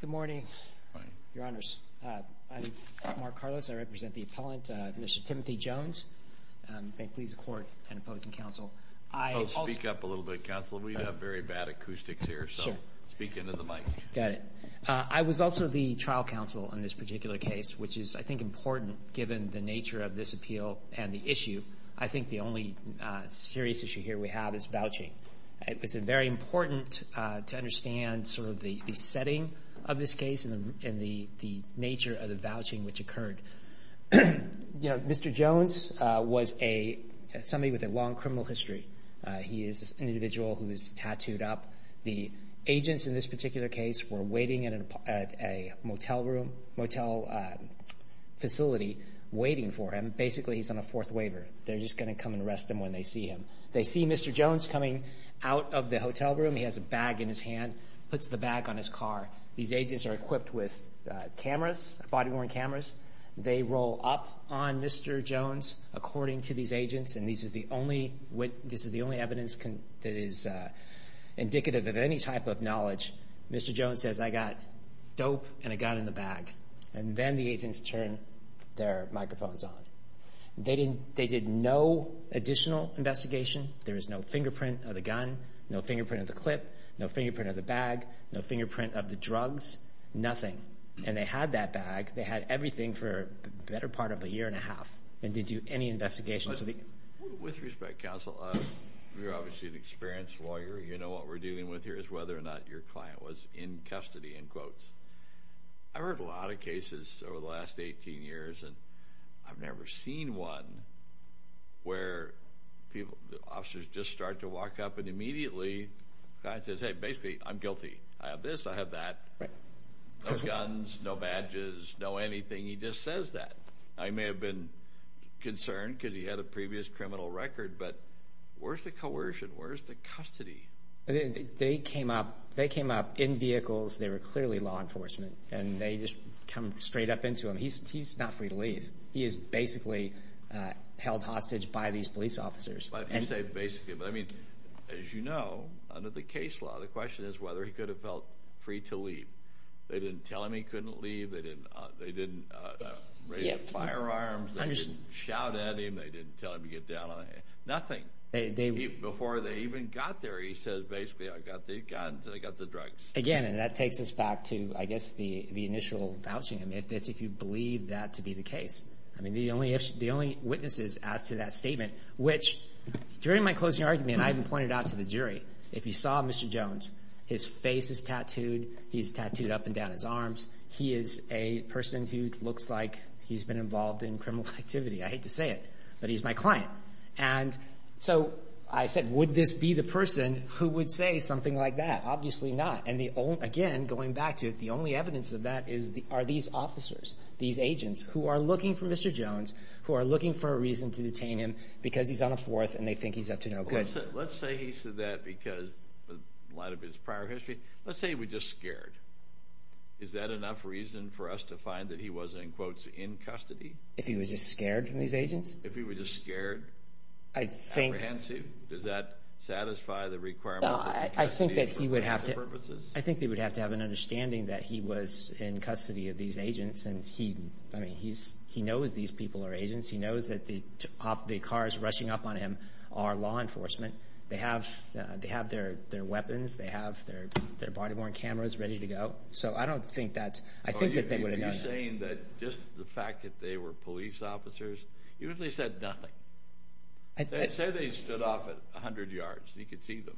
Good morning, your honors. I'm Mark Carlos. I represent the appellant, Mr. Timothy Jones. May it please the court and opposing counsel, I also... I was also the trial counsel on this particular case, which is, I think, important given the nature of this appeal and the issue. I think the only serious issue here we have is vouching. It's very important to understand sort of the setting of this case and the nature of the vouching which occurred. Mr. Jones was somebody with a long criminal history. He is an individual who is tattooed up. The agents in this particular case were waiting at a motel room, motel facility, waiting for him. Basically, he's on a fourth waiver. They're just going to come and arrest him when they see him. They see Mr. Jones coming out of the hotel room. He has a bag in his hand, puts the bag on his car. These agents are equipped with cameras, body-worn cameras. They roll up on Mr. Jones, according to these agents, and this is the only evidence that is indicative of any type of knowledge. Mr. Jones says, I got dope, and I got it in the bag. And then the agents turn their microphones on. They did no additional investigation. There is no fingerprint of the gun, no fingerprint of the clip, no fingerprint of the bag, no fingerprint of the drugs, nothing. And they had that bag. They had everything for the better part of a year and a half. They didn't do any investigation. With respect, counsel, you're obviously an experienced lawyer. You know what we're dealing with here is whether or not your client was in custody, in quotes. I've heard a lot of cases over the last 18 years, and I've never seen one where the officers just start to walk up, and immediately the client says, hey, basically, I'm guilty. I have this. I have that. Right. No guns, no badges, no anything. He just says that. Now, he may have been concerned because he had a previous criminal record, but where's the coercion? Where's the custody? They came up in vehicles. They were clearly law enforcement, and they just come straight up into him. He's not free to leave. He is basically held hostage by these police officers. You say basically, but, I mean, as you know, under the case law, the question is whether he could have felt free to leave. They didn't tell him he couldn't leave. They didn't raise firearms. They didn't shout at him. They didn't tell him to get down on anything. Nothing. Before they even got there, he says, basically, I got the guns and I got the drugs. Again, and that takes us back to, I guess, the initial vouching. It's if you believe that to be the case. I mean, the only witnesses as to that statement, which during my closing argument, and I even pointed out to the jury, if you saw Mr. Jones, his face is tattooed. He's tattooed up and down his arms. He is a person who looks like he's been involved in criminal activity. I hate to say it, but he's my client. And so I said, would this be the person who would say something like that? Obviously not. And, again, going back to it, the only evidence of that are these officers, these agents who are looking for Mr. Jones, who are looking for a reason to detain him because he's on the fourth and they think he's up to no good. Let's say he said that because in light of his prior history. Let's say he was just scared. Is that enough reason for us to find that he was, in quotes, in custody? If he was just scared from these agents? If he was just scared? I think. Apprehensive? Does that satisfy the requirement? I think that he would have to have an understanding that he was in custody of these agents. I mean, he knows these people are agents. He knows that the cars rushing up on him are law enforcement. They have their weapons. They have their body-worn cameras ready to go. So I don't think that's – I think that they would have done that. Are you saying that just the fact that they were police officers? You usually said nothing. Say they stood off at 100 yards and he could see them.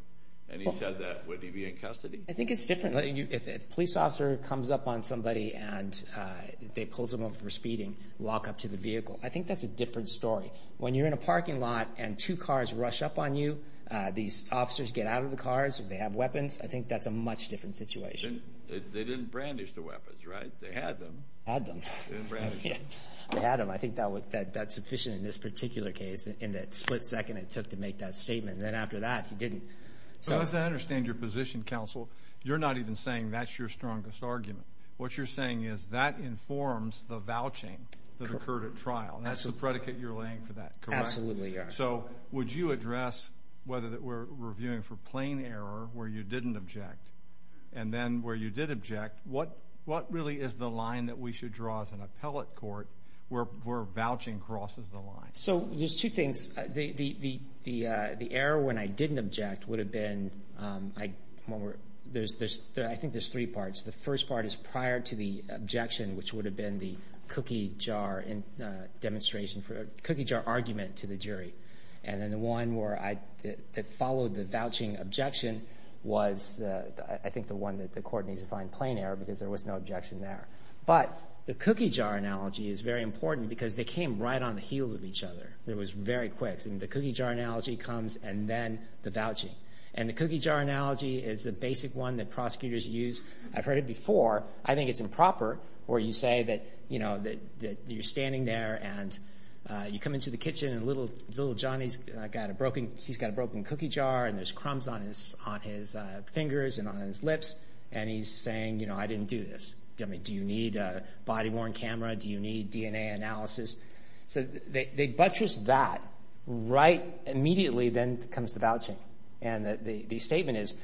And he said that, would he be in custody? I think it's different. If a police officer comes up on somebody and they pull someone for speeding, lock up to the vehicle. I think that's a different story. When you're in a parking lot and two cars rush up on you, these officers get out of the cars. They have weapons. I think that's a much different situation. They didn't brandish the weapons, right? They had them. Had them. They didn't brandish them. They had them. I think that's sufficient in this particular case in the split second it took to make that statement. Then after that, he didn't. As I understand your position, counsel, you're not even saying that's your strongest argument. What you're saying is that informs the vouching that occurred at trial. That's the predicate you're laying for that, correct? Absolutely. So would you address whether we're reviewing for plain error where you didn't object, and then where you did object, what really is the line that we should draw as an appellate court where vouching crosses the line? So there's two things. The error when I didn't object would have been, I think there's three parts. The first part is prior to the objection, which would have been the cookie jar argument to the jury. And then the one that followed the vouching objection was, I think, the one that the court needs to find plain error because there was no objection there. But the cookie jar analogy is very important because they came right on the heels of each other. It was very quick. The cookie jar analogy comes and then the vouching. And the cookie jar analogy is the basic one that prosecutors use. I've heard it before. I think it's improper where you say that you're standing there, and you come into the kitchen, and little Johnny's got a broken cookie jar, and there's crumbs on his fingers and on his lips, and he's saying, you know, I didn't do this. Do you need a body-worn camera? Do you need DNA analysis? So they buttress that right immediately, then comes the vouching. And the statement is,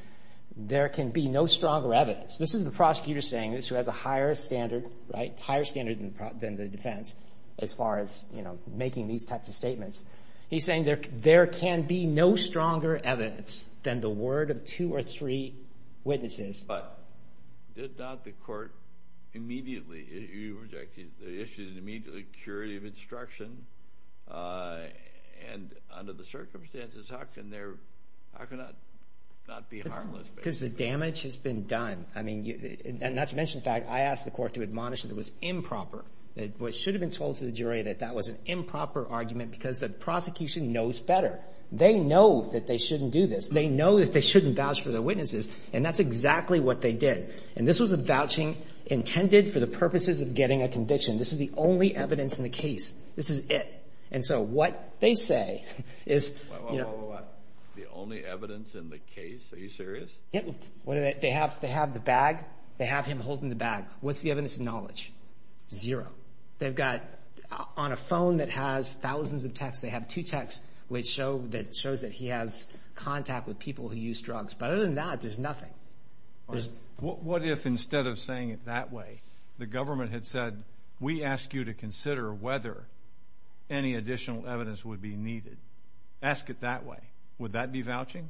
there can be no stronger evidence. This is the prosecutor saying this who has a higher standard, right, higher standard than the defense as far as, you know, making these types of statements. He's saying there can be no stronger evidence than the word of two or three witnesses. But did not the court immediately issue an immediate curative instruction? And under the circumstances, how can there not be harmless? Because the damage has been done. I mean, not to mention, in fact, I asked the court to admonish that it was improper. It should have been told to the jury that that was an improper argument because the prosecution knows better. They know that they shouldn't do this. They know that they shouldn't vouch for their witnesses, and that's exactly what they did. And this was a vouching intended for the purposes of getting a conviction. This is the only evidence in the case. This is it. And so what they say is, you know. What, what, what, what, what? The only evidence in the case? Are you serious? Yeah. They have the bag. They have him holding the bag. What's the evidence and knowledge? Zero. They've got on a phone that has thousands of texts. They have two texts that show that he has contact with people who use drugs. But other than that, there's nothing. What if instead of saying it that way, the government had said, we ask you to consider whether any additional evidence would be needed? Ask it that way. Would that be vouching?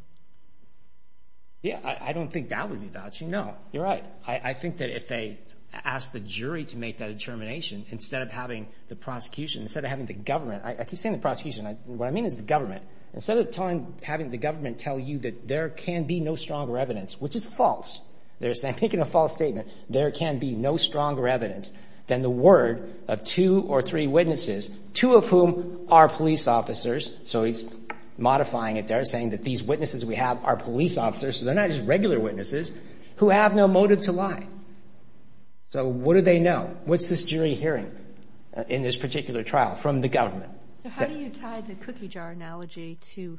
Yeah, I don't think that would be vouching. No, you're right. I think that if they ask the jury to make that determination, instead of having the prosecution, instead of having the government, I keep saying the prosecution. What I mean is the government. Instead of telling, having the government tell you that there can be no stronger evidence, which is false, they're saying, making a false statement, there can be no stronger evidence than the word of two or three witnesses, two of whom are police officers. So he's modifying it. They're saying that these witnesses we have are police officers, so they're not just regular witnesses, who have no motive to lie. So what do they know? What's this jury hearing in this particular trial from the government? So how do you tie the cookie jar analogy to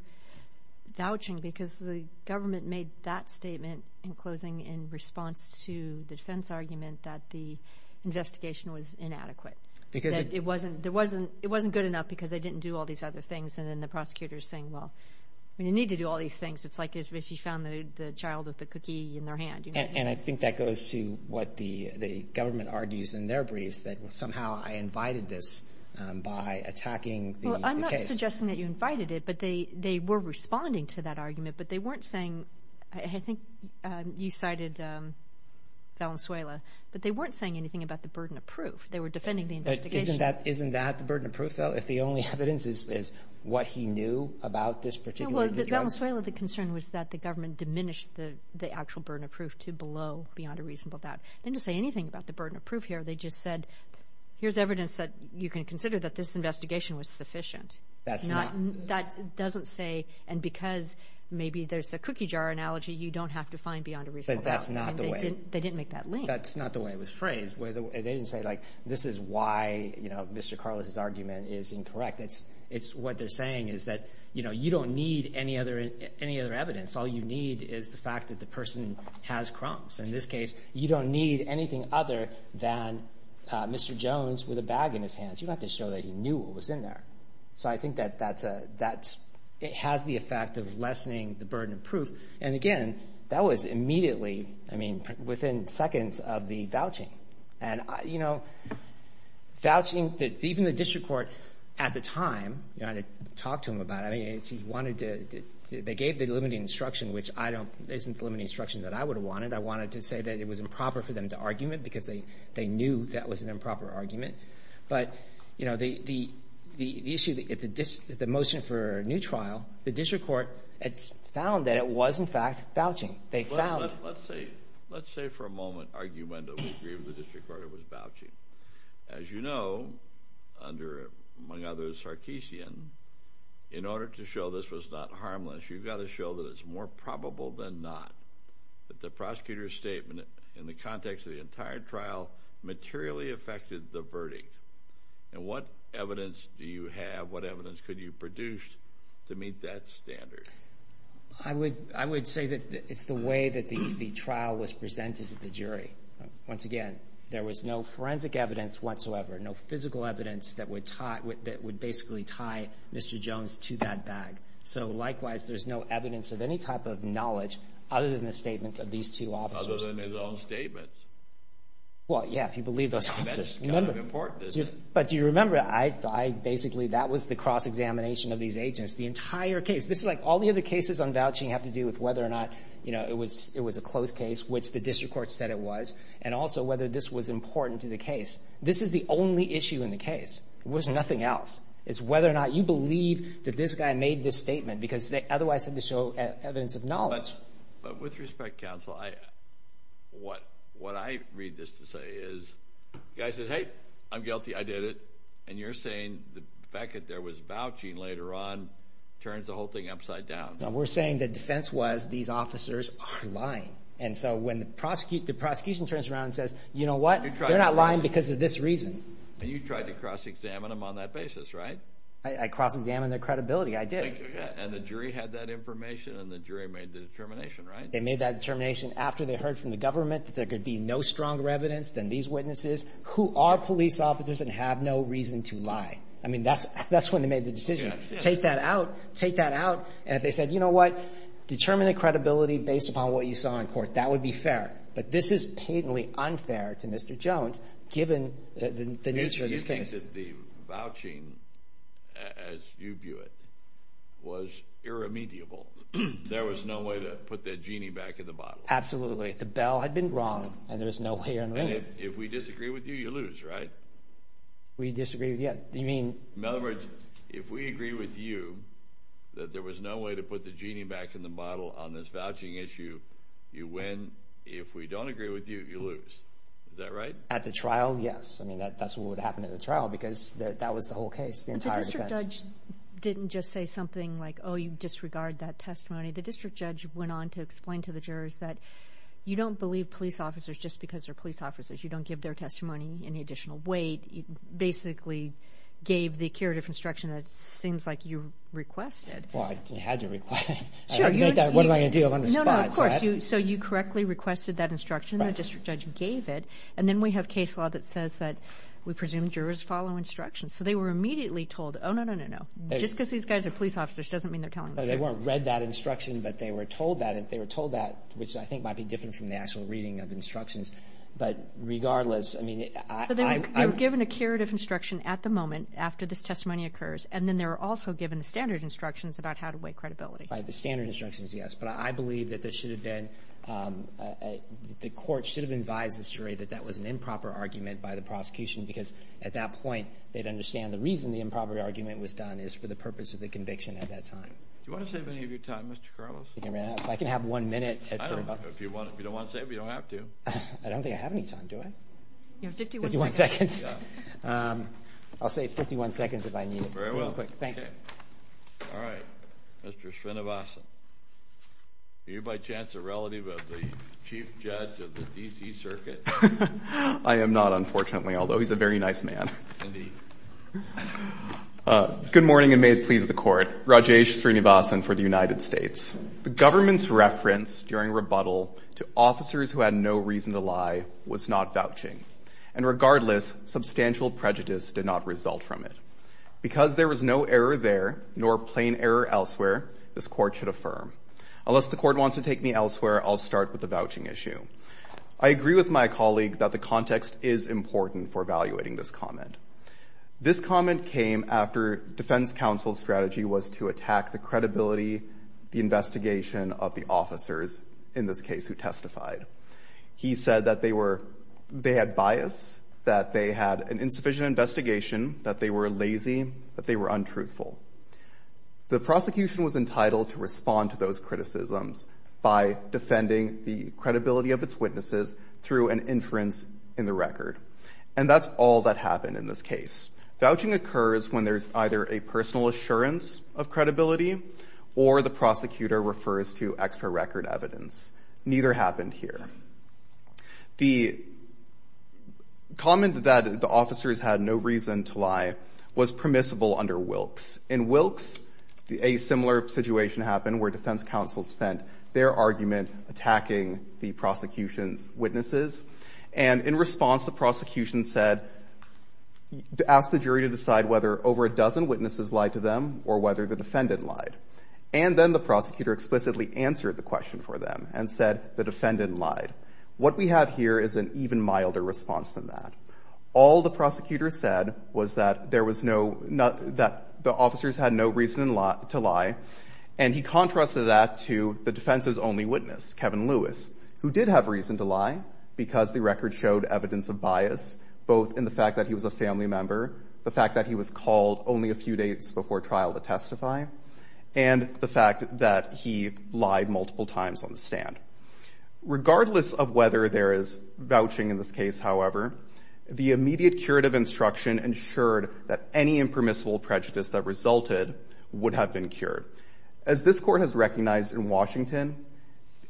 vouching? Because the government made that statement in closing in response to the defense argument that the investigation was inadequate, that it wasn't good enough because they didn't do all these other things, and then the prosecutor is saying, well, you need to do all these things. It's like if you found the child with the cookie in their hand. And I think that goes to what the government argues in their briefs, that somehow I invited this by attacking the case. Well, I'm not suggesting that you invited it, but they were responding to that argument, but they weren't saying, I think you cited Valenzuela, but they weren't saying anything about the burden of proof. They were defending the investigation. But isn't that the burden of proof, though, if the only evidence is what he knew about this particular drug? Well, with Valenzuela, the concern was that the government diminished the actual burden of proof to below, beyond a reasonable doubt. They didn't say anything about the burden of proof here. They just said, here's evidence that you can consider that this investigation was sufficient. That doesn't say, and because maybe there's a cookie jar analogy, you don't have to find beyond a reasonable doubt. They didn't make that link. That's not the way it was phrased. They didn't say, like, this is why, you know, Mr. Carlos's argument is incorrect. It's what they're saying is that, you know, you don't need any other evidence. All you need is the fact that the person has crumbs. In this case, you don't need anything other than Mr. Jones with a bag in his hands. You don't have to show that he knew what was in there. So I think that that has the effect of lessening the burden of proof. And, again, that was immediately, I mean, within seconds of the vouching. And, you know, vouching, even the district court at the time, you know, had to talk to him about it. They gave the limiting instruction, which isn't the limiting instruction that I would have wanted. I wanted to say that it was improper for them to argument because they knew that was an improper argument. But, you know, the issue, the motion for a new trial, the district court found that it was, in fact, vouching. Let's say for a moment argument that we agree with the district court it was vouching. As you know, under, among others, Sarkisian, in order to show this was not harmless, you've got to show that it's more probable than not that the prosecutor's statement in the context of the entire trial materially affected the verdict. And what evidence do you have, what evidence could you produce to meet that standard? I would say that it's the way that the trial was presented to the jury. Once again, there was no forensic evidence whatsoever, no physical evidence that would basically tie Mr. Jones to that bag. So, likewise, there's no evidence of any type of knowledge other than the statements of these two officers. Other than his own statements? Well, yeah, if you believe those officers. That's kind of important, isn't it? But do you remember, I basically, that was the cross-examination of these agents, the entire case. This is like all the other cases on vouching have to do with whether or not, you know, it was a close case, which the district court said it was, and also whether this was important to the case. This is the only issue in the case. There was nothing else. It's whether or not you believe that this guy made this statement, because they otherwise had to show evidence of knowledge. But with respect, counsel, what I read this to say is the guy says, hey, I'm guilty, I did it. And you're saying the fact that there was vouching later on turns the whole thing upside down. No, we're saying the defense was these officers are lying. And so when the prosecution turns around and says, you know what, they're not lying because of this reason. And you tried to cross-examine them on that basis, right? I cross-examined their credibility. I did. And the jury had that information, and the jury made the determination, right? They made that determination after they heard from the government that there could be no stronger evidence than these witnesses who are police officers and have no reason to lie. I mean, that's when they made the decision. Take that out. Take that out. And if they said, you know what, determine the credibility based upon what you saw in court, that would be fair. But this is patently unfair to Mr. Jones given the nature of this case. You think that the vouching, as you view it, was irremediable. There was no way to put that genie back in the bottle. Absolutely. The bell had been rung, and there was no way in winning it. And if we disagree with you, you lose, right? We disagree with you. You mean? In other words, if we agree with you that there was no way to put the genie back in the bottle on this vouching issue, you win. If we don't agree with you, you lose. Is that right? At the trial, yes. I mean, that's what would happen at the trial because that was the whole case, the entire defense. But the district judge didn't just say something like, oh, you disregard that testimony. The district judge went on to explain to the jurors that you don't believe police officers just because they're police officers. You don't give their testimony any additional weight. You basically gave the curative instruction that seems like you requested. Well, I had to request it. What am I going to do? I'm on the spot. No, no, of course. So you correctly requested that instruction, and the district judge gave it. And then we have case law that says that we presume jurors follow instructions. So they were immediately told, oh, no, no, no, no. Just because these guys are police officers doesn't mean they're telling the truth. No, they weren't read that instruction, but they were told that. And they were told that, which I think might be different from the actual reading of instructions. But regardless, I mean, I – So they were given a curative instruction at the moment after this testimony occurs, and then they were also given the standard instructions about how to weigh credibility. The standard instructions, yes. But I believe that this should have been – the court should have advised the jury that that was an improper argument by the prosecution, because at that point they'd understand the reason the improper argument was done is for the purpose of the conviction at that time. Do you want to save any of your time, Mr. Carlos? If I can have one minute at 3 o'clock. If you don't want to save it, you don't have to. I don't think I have any time, do I? You have 51 seconds. 51 seconds. I'll save 51 seconds if I need it. Very well. Thanks. Okay. All right. Mr. Srinivasan, are you by chance a relative of the chief judge of the D.C. Circuit? I am not, unfortunately, although he's a very nice man. Indeed. Good morning, and may it please the Court. Rajesh Srinivasan for the United States. The government's reference during rebuttal to officers who had no reason to lie was not vouching. And regardless, substantial prejudice did not result from it. Because there was no error there nor plain error elsewhere, this Court should affirm. Unless the Court wants to take me elsewhere, I'll start with the vouching issue. I agree with my colleague that the context is important for evaluating this comment. This comment came after defense counsel's strategy was to attack the credibility, the investigation of the officers in this case who testified. He said that they had bias, that they had an insufficient investigation, that they were lazy, that they were untruthful. The prosecution was entitled to respond to those criticisms by defending the credibility of its witnesses through an inference in the record. And that's all that happened in this case. Vouching occurs when there's either a personal assurance of credibility or the prosecutor refers to extra-record evidence. Neither happened here. The comment that the officers had no reason to lie was permissible under Wilkes. In Wilkes, a similar situation happened where defense counsel spent their argument attacking the prosecution's witnesses. And in response, the prosecution said to ask the jury to decide whether over a dozen witnesses lied to them or whether the defendant lied. And then the prosecutor explicitly answered the question for them and said the defendant lied. What we have here is an even milder response than that. All the prosecutor said was that there was no – that the officers had no reason to lie. And he contrasted that to the defense's only witness, Kevin Lewis, who did have reason to lie because the record showed evidence of bias, both in the fact that he was a family member, the fact that he was called only a few days before trial to testify, and the fact that he lied multiple times on the stand. Regardless of whether there is vouching in this case, however, the immediate curative instruction ensured that any impermissible prejudice that resulted would have been cured. As this Court has recognized in Washington,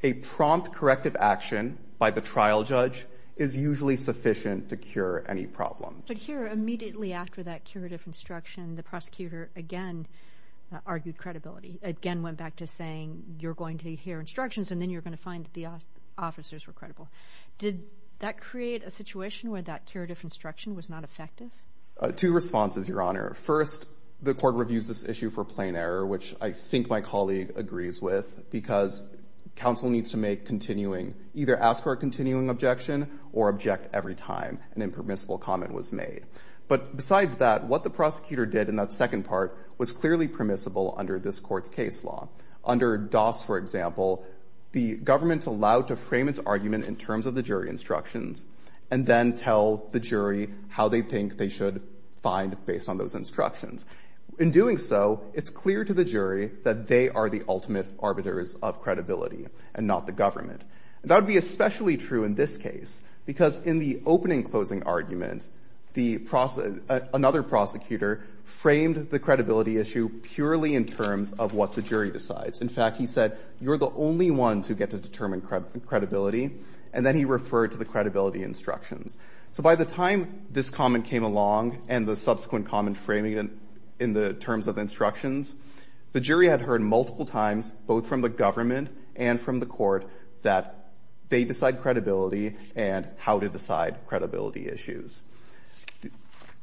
a prompt corrective action by the trial judge is usually sufficient to cure any problems. But here, immediately after that curative instruction, the prosecutor again argued credibility, again went back to saying you're going to hear instructions and then you're going to find that the officers were credible. Did that create a situation where that curative instruction was not effective? Two responses, Your Honor. First, the Court reviews this issue for plain error, which I think my colleague agrees with, because counsel needs to make continuing – either ask for a continuing objection or object every time an impermissible comment was made. But besides that, what the prosecutor did in that second part was clearly permissible under this Court's case law. Under Doss, for example, the government's allowed to frame its argument in terms of the jury instructions and then tell the jury how they think they should find based on those instructions. In doing so, it's clear to the jury that they are the ultimate arbiters of credibility and not the government. And that would be especially true in this case, because in the opening-closing argument, the – another prosecutor framed the credibility issue purely in terms of what the jury decides. In fact, he said you're the only ones who get to determine credibility, and then he referred to the credibility instructions. So by the time this comment came along and the subsequent comment framing it in the terms of instructions, the jury had heard multiple times, both from the government and from the Court, that they decide credibility and how to decide credibility issues.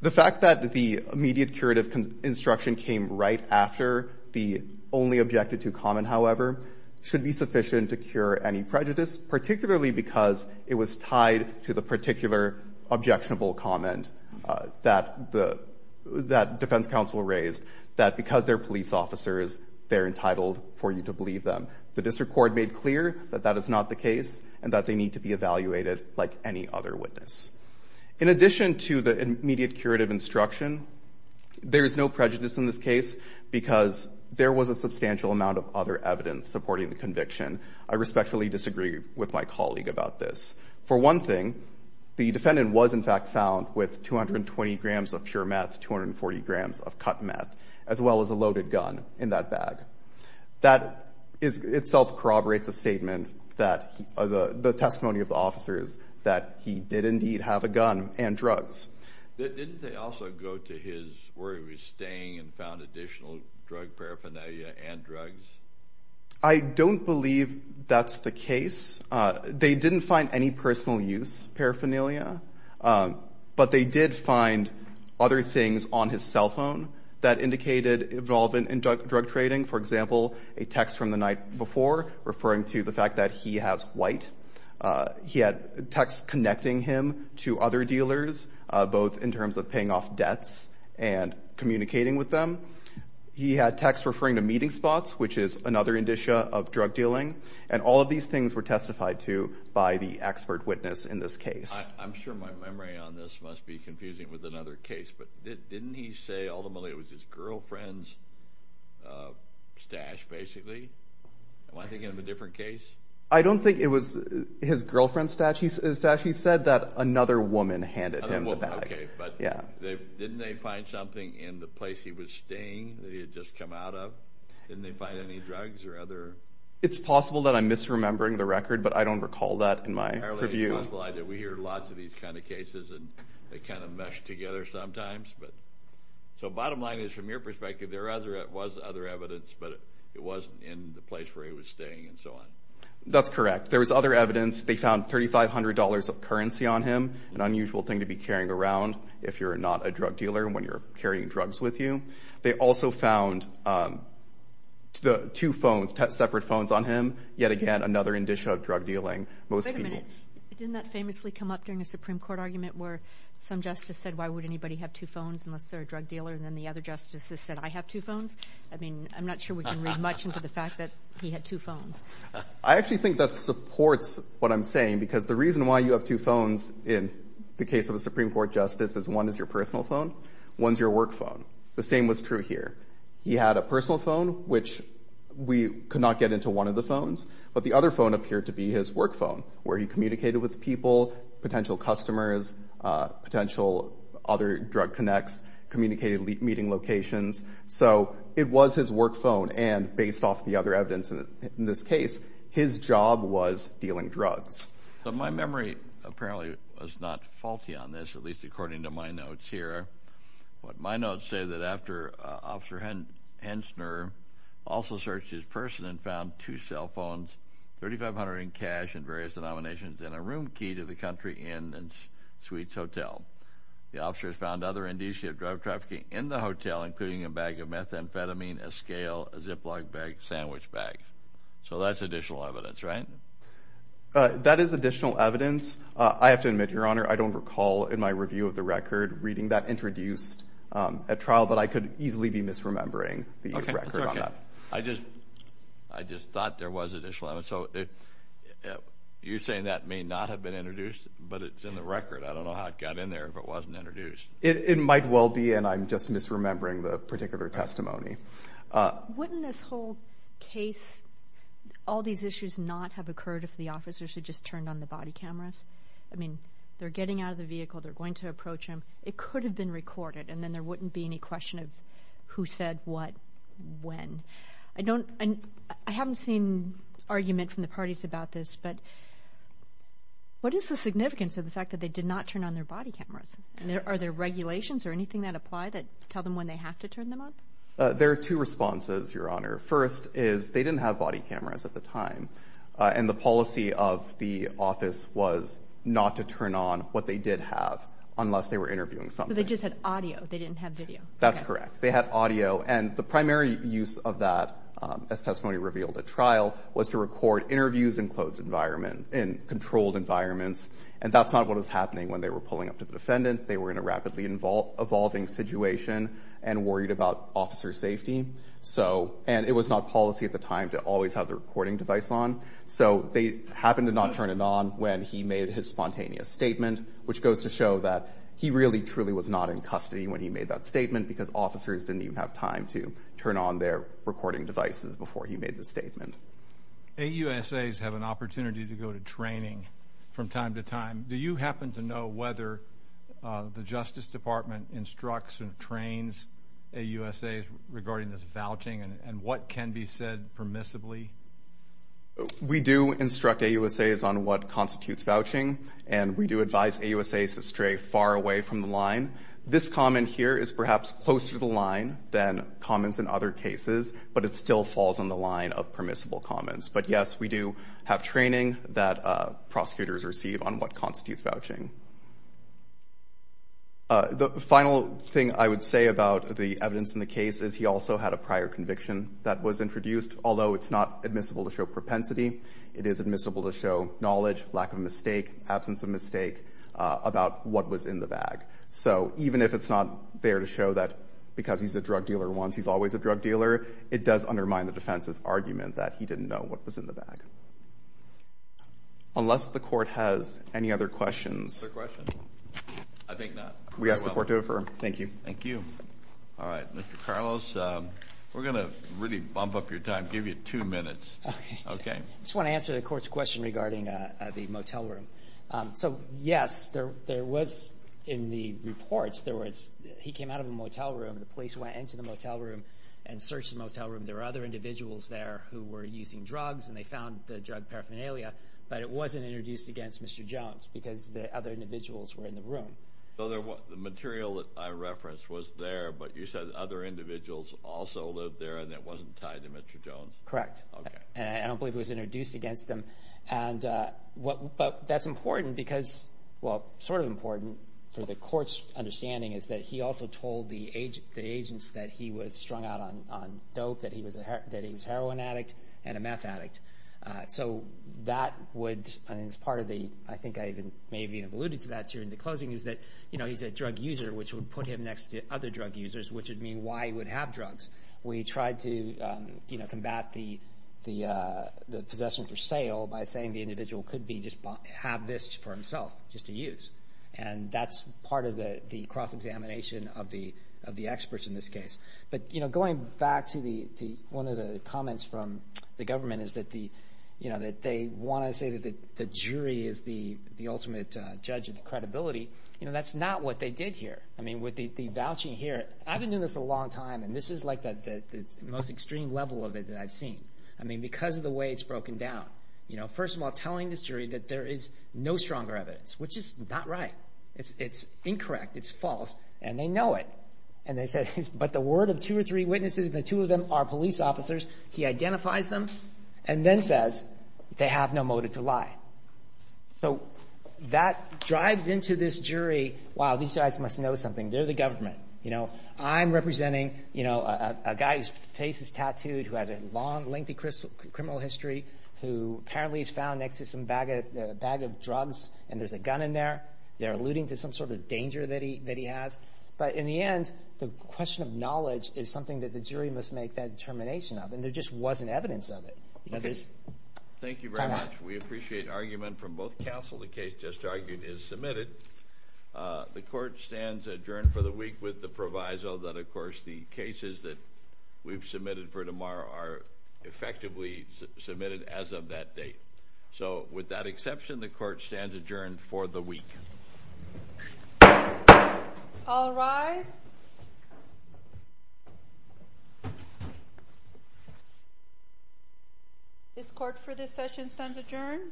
The fact that the immediate curative instruction came right after the only objected to comment, however, should be sufficient to cure any prejudice, particularly because it was tied to the particular objectionable comment that the – that defense counsel raised, that because they're police officers, they're entitled for you to comment. Mr. Cord made clear that that is not the case and that they need to be evaluated like any other witness. In addition to the immediate curative instruction, there is no prejudice in this case because there was a substantial amount of other evidence supporting the conviction. I respectfully disagree with my colleague about this. For one thing, the defendant was, in fact, found with 220 grams of pure meth, 240 grams of cut meth, as well as a loaded gun in that bag. That itself corroborates a statement that – the testimony of the officers that he did indeed have a gun and drugs. Didn't they also go to his – where he was staying and found additional drug paraphernalia and drugs? I don't believe that's the case. They didn't find any personal use paraphernalia, but they did find other things on his cell phone that indicated involvement in drug trading. For example, a text from the night before referring to the fact that he has white. He had text connecting him to other dealers, both in terms of paying off debts and communicating with them. He had text referring to meeting spots, which is another indicia of drug dealing. And all of these things were testified to by the expert witness in this case. I'm sure my memory on this must be confusing with another case, but didn't he say ultimately it was his girlfriend's stash, basically? Am I thinking of a different case? I don't think it was his girlfriend's stash. His stash, he said that another woman handed him the bag. Okay, but didn't they find something in the place he was staying that he had just come out of? Didn't they find any drugs or other – It's possible that I'm misremembering the record, but I don't recall that in my review. I apologize. We hear lots of these kind of cases, and they kind of mesh together sometimes. So bottom line is, from your perspective, there was other evidence, but it wasn't in the place where he was staying and so on. That's correct. There was other evidence. They found $3,500 of currency on him, an unusual thing to be carrying around if you're not a drug dealer and when you're carrying drugs with you. They also found two phones, separate phones on him, yet again another indicia of drug dealing. Most people – Wait a minute. Didn't that famously come up during a Supreme Court argument where some justice said, why would anybody have two phones unless they're a drug dealer, and then the other justice said, I have two phones? I mean, I'm not sure we can read much into the fact that he had two phones. I actually think that supports what I'm saying because the reason why you have two phones in the case of a Supreme Court justice is one is your personal phone, one is your work phone. The same was true here. He had a personal phone, which we could not get into one of the phones, but the other phone appeared to be his work phone, where he communicated with people, potential customers, potential other drug connects, communicated meeting locations. So it was his work phone, and based off the other evidence in this case, his job was dealing drugs. But my memory apparently was not faulty on this, at least according to my notes here. My notes say that after Officer Hensner also searched his person and found two cell phones, $3,500 in cash in various denominations, and a room key to the country inn and suites hotel. The officers found other indicia of drug trafficking in the hotel, including a bag of methamphetamine, a scale, a Ziploc bag, sandwich bag. So that's additional evidence, right? That is additional evidence. I have to admit, Your Honor, I don't recall in my review of the record reading that introduced at trial that I could easily be misremembering the record on that. I just thought there was additional evidence. So you're saying that may not have been introduced, but it's in the record. I don't know how it got in there if it wasn't introduced. It might well be, and I'm just misremembering the particular testimony. Wouldn't this whole case, all these issues not have occurred if the officers had just turned on the body cameras? I mean, they're getting out of the vehicle. They're going to approach him. It could have been recorded, and then there wouldn't be any question of who said what, when. I haven't seen argument from the parties about this, but what is the significance of the fact that they did not turn on their body cameras? Are there regulations or anything that apply that tell them when they have to turn them on? There are two responses, Your Honor. First is they didn't have body cameras at the time, and the policy of the office was not to turn on what they did have unless they were interviewing somebody. So they just had audio. They didn't have video. That's correct. They had audio. And the primary use of that, as testimony revealed at trial, was to record interviews in closed environment, in controlled environments. And that's not what was happening when they were pulling up to the defendant. They were in a rapidly evolving situation and worried about officer safety. So – and it was not policy at the time to always have the recording device on. So they happened to not turn it on when he made his spontaneous statement, which goes to show that he really, truly was not in custody when he made that statement because officers didn't even have time to turn on their recording devices before he made the statement. AUSAs have an opportunity to go to training from time to time. Do you happen to know whether the Justice Department instructs or trains AUSAs regarding this vouching and what can be said permissibly? We do instruct AUSAs on what constitutes vouching, and we do advise AUSAs to stray far away from the line. This comment here is perhaps closer to the line than comments in other cases, but it still falls on the line of permissible comments. But, yes, we do have training that prosecutors receive on what constitutes vouching. The final thing I would say about the evidence in the case is he also had a prior conviction that was introduced, although it's not admissible to show propensity. It is admissible to show knowledge, lack of mistake, absence of mistake, about what was in the bag. So even if it's not there to show that because he's a drug dealer once, he's always a drug dealer, it does undermine the defense's argument that he didn't know what was in the bag. Unless the Court has any other questions. Is there a question? I think not. We ask the Court to defer. Thank you. Thank you. All right. Mr. Carlos, we're going to really bump up your time, give you two minutes. Okay. I just want to answer the Court's question regarding the motel room. So, yes, there was in the reports, he came out of a motel room. The police went into the motel room and searched the motel room. There were other individuals there who were using drugs, and they found the drug paraphernalia, but it wasn't introduced against Mr. Jones because the other individuals were in the room. So the material that I referenced was there, but you said other individuals also lived there and it wasn't tied to Mr. Jones? Correct. Okay. And I don't believe it was introduced against him. But that's important because, well, sort of important for the Court's understanding, is that he also told the agents that he was strung out on dope, that he was a heroin addict and a meth addict. So that would, as part of the, I think I even maybe alluded to that during the closing, is that, you know, he's a drug user, which would put him next to other drug users, which would mean why he would have drugs. We tried to, you know, combat the possession for sale by saying the individual could have this for himself just to use, and that's part of the cross-examination of the experts in this case. But, you know, going back to one of the comments from the government is that, you know, that they want to say that the jury is the ultimate judge of the credibility. You know, that's not what they did here. I mean, with the vouching here, I've been doing this a long time, and this is like the most extreme level of it that I've seen. I mean, because of the way it's broken down. You know, first of all, telling this jury that there is no stronger evidence, which is not right. It's incorrect. It's false. And they know it. And they said, but the word of two or three witnesses, and the two of them are police officers, he identifies them and then says they have no motive to lie. So that drives into this jury, wow, these guys must know something. They're the government. You know, I'm representing, you know, a guy whose face is tattooed, who has a long, lengthy criminal history, who apparently is found next to some bag of drugs, and there's a gun in there. They're alluding to some sort of danger that he has. But in the end, the question of knowledge is something that the jury must make that determination of, and there just wasn't evidence of it. Thank you very much. We appreciate argument from both counsel. The case just argued is submitted. The court stands adjourned for the week with the proviso that, of course, the cases that we've submitted for tomorrow are effectively submitted as of that date. So with that exception, the court stands adjourned for the week. All rise. This court for this session stands adjourned.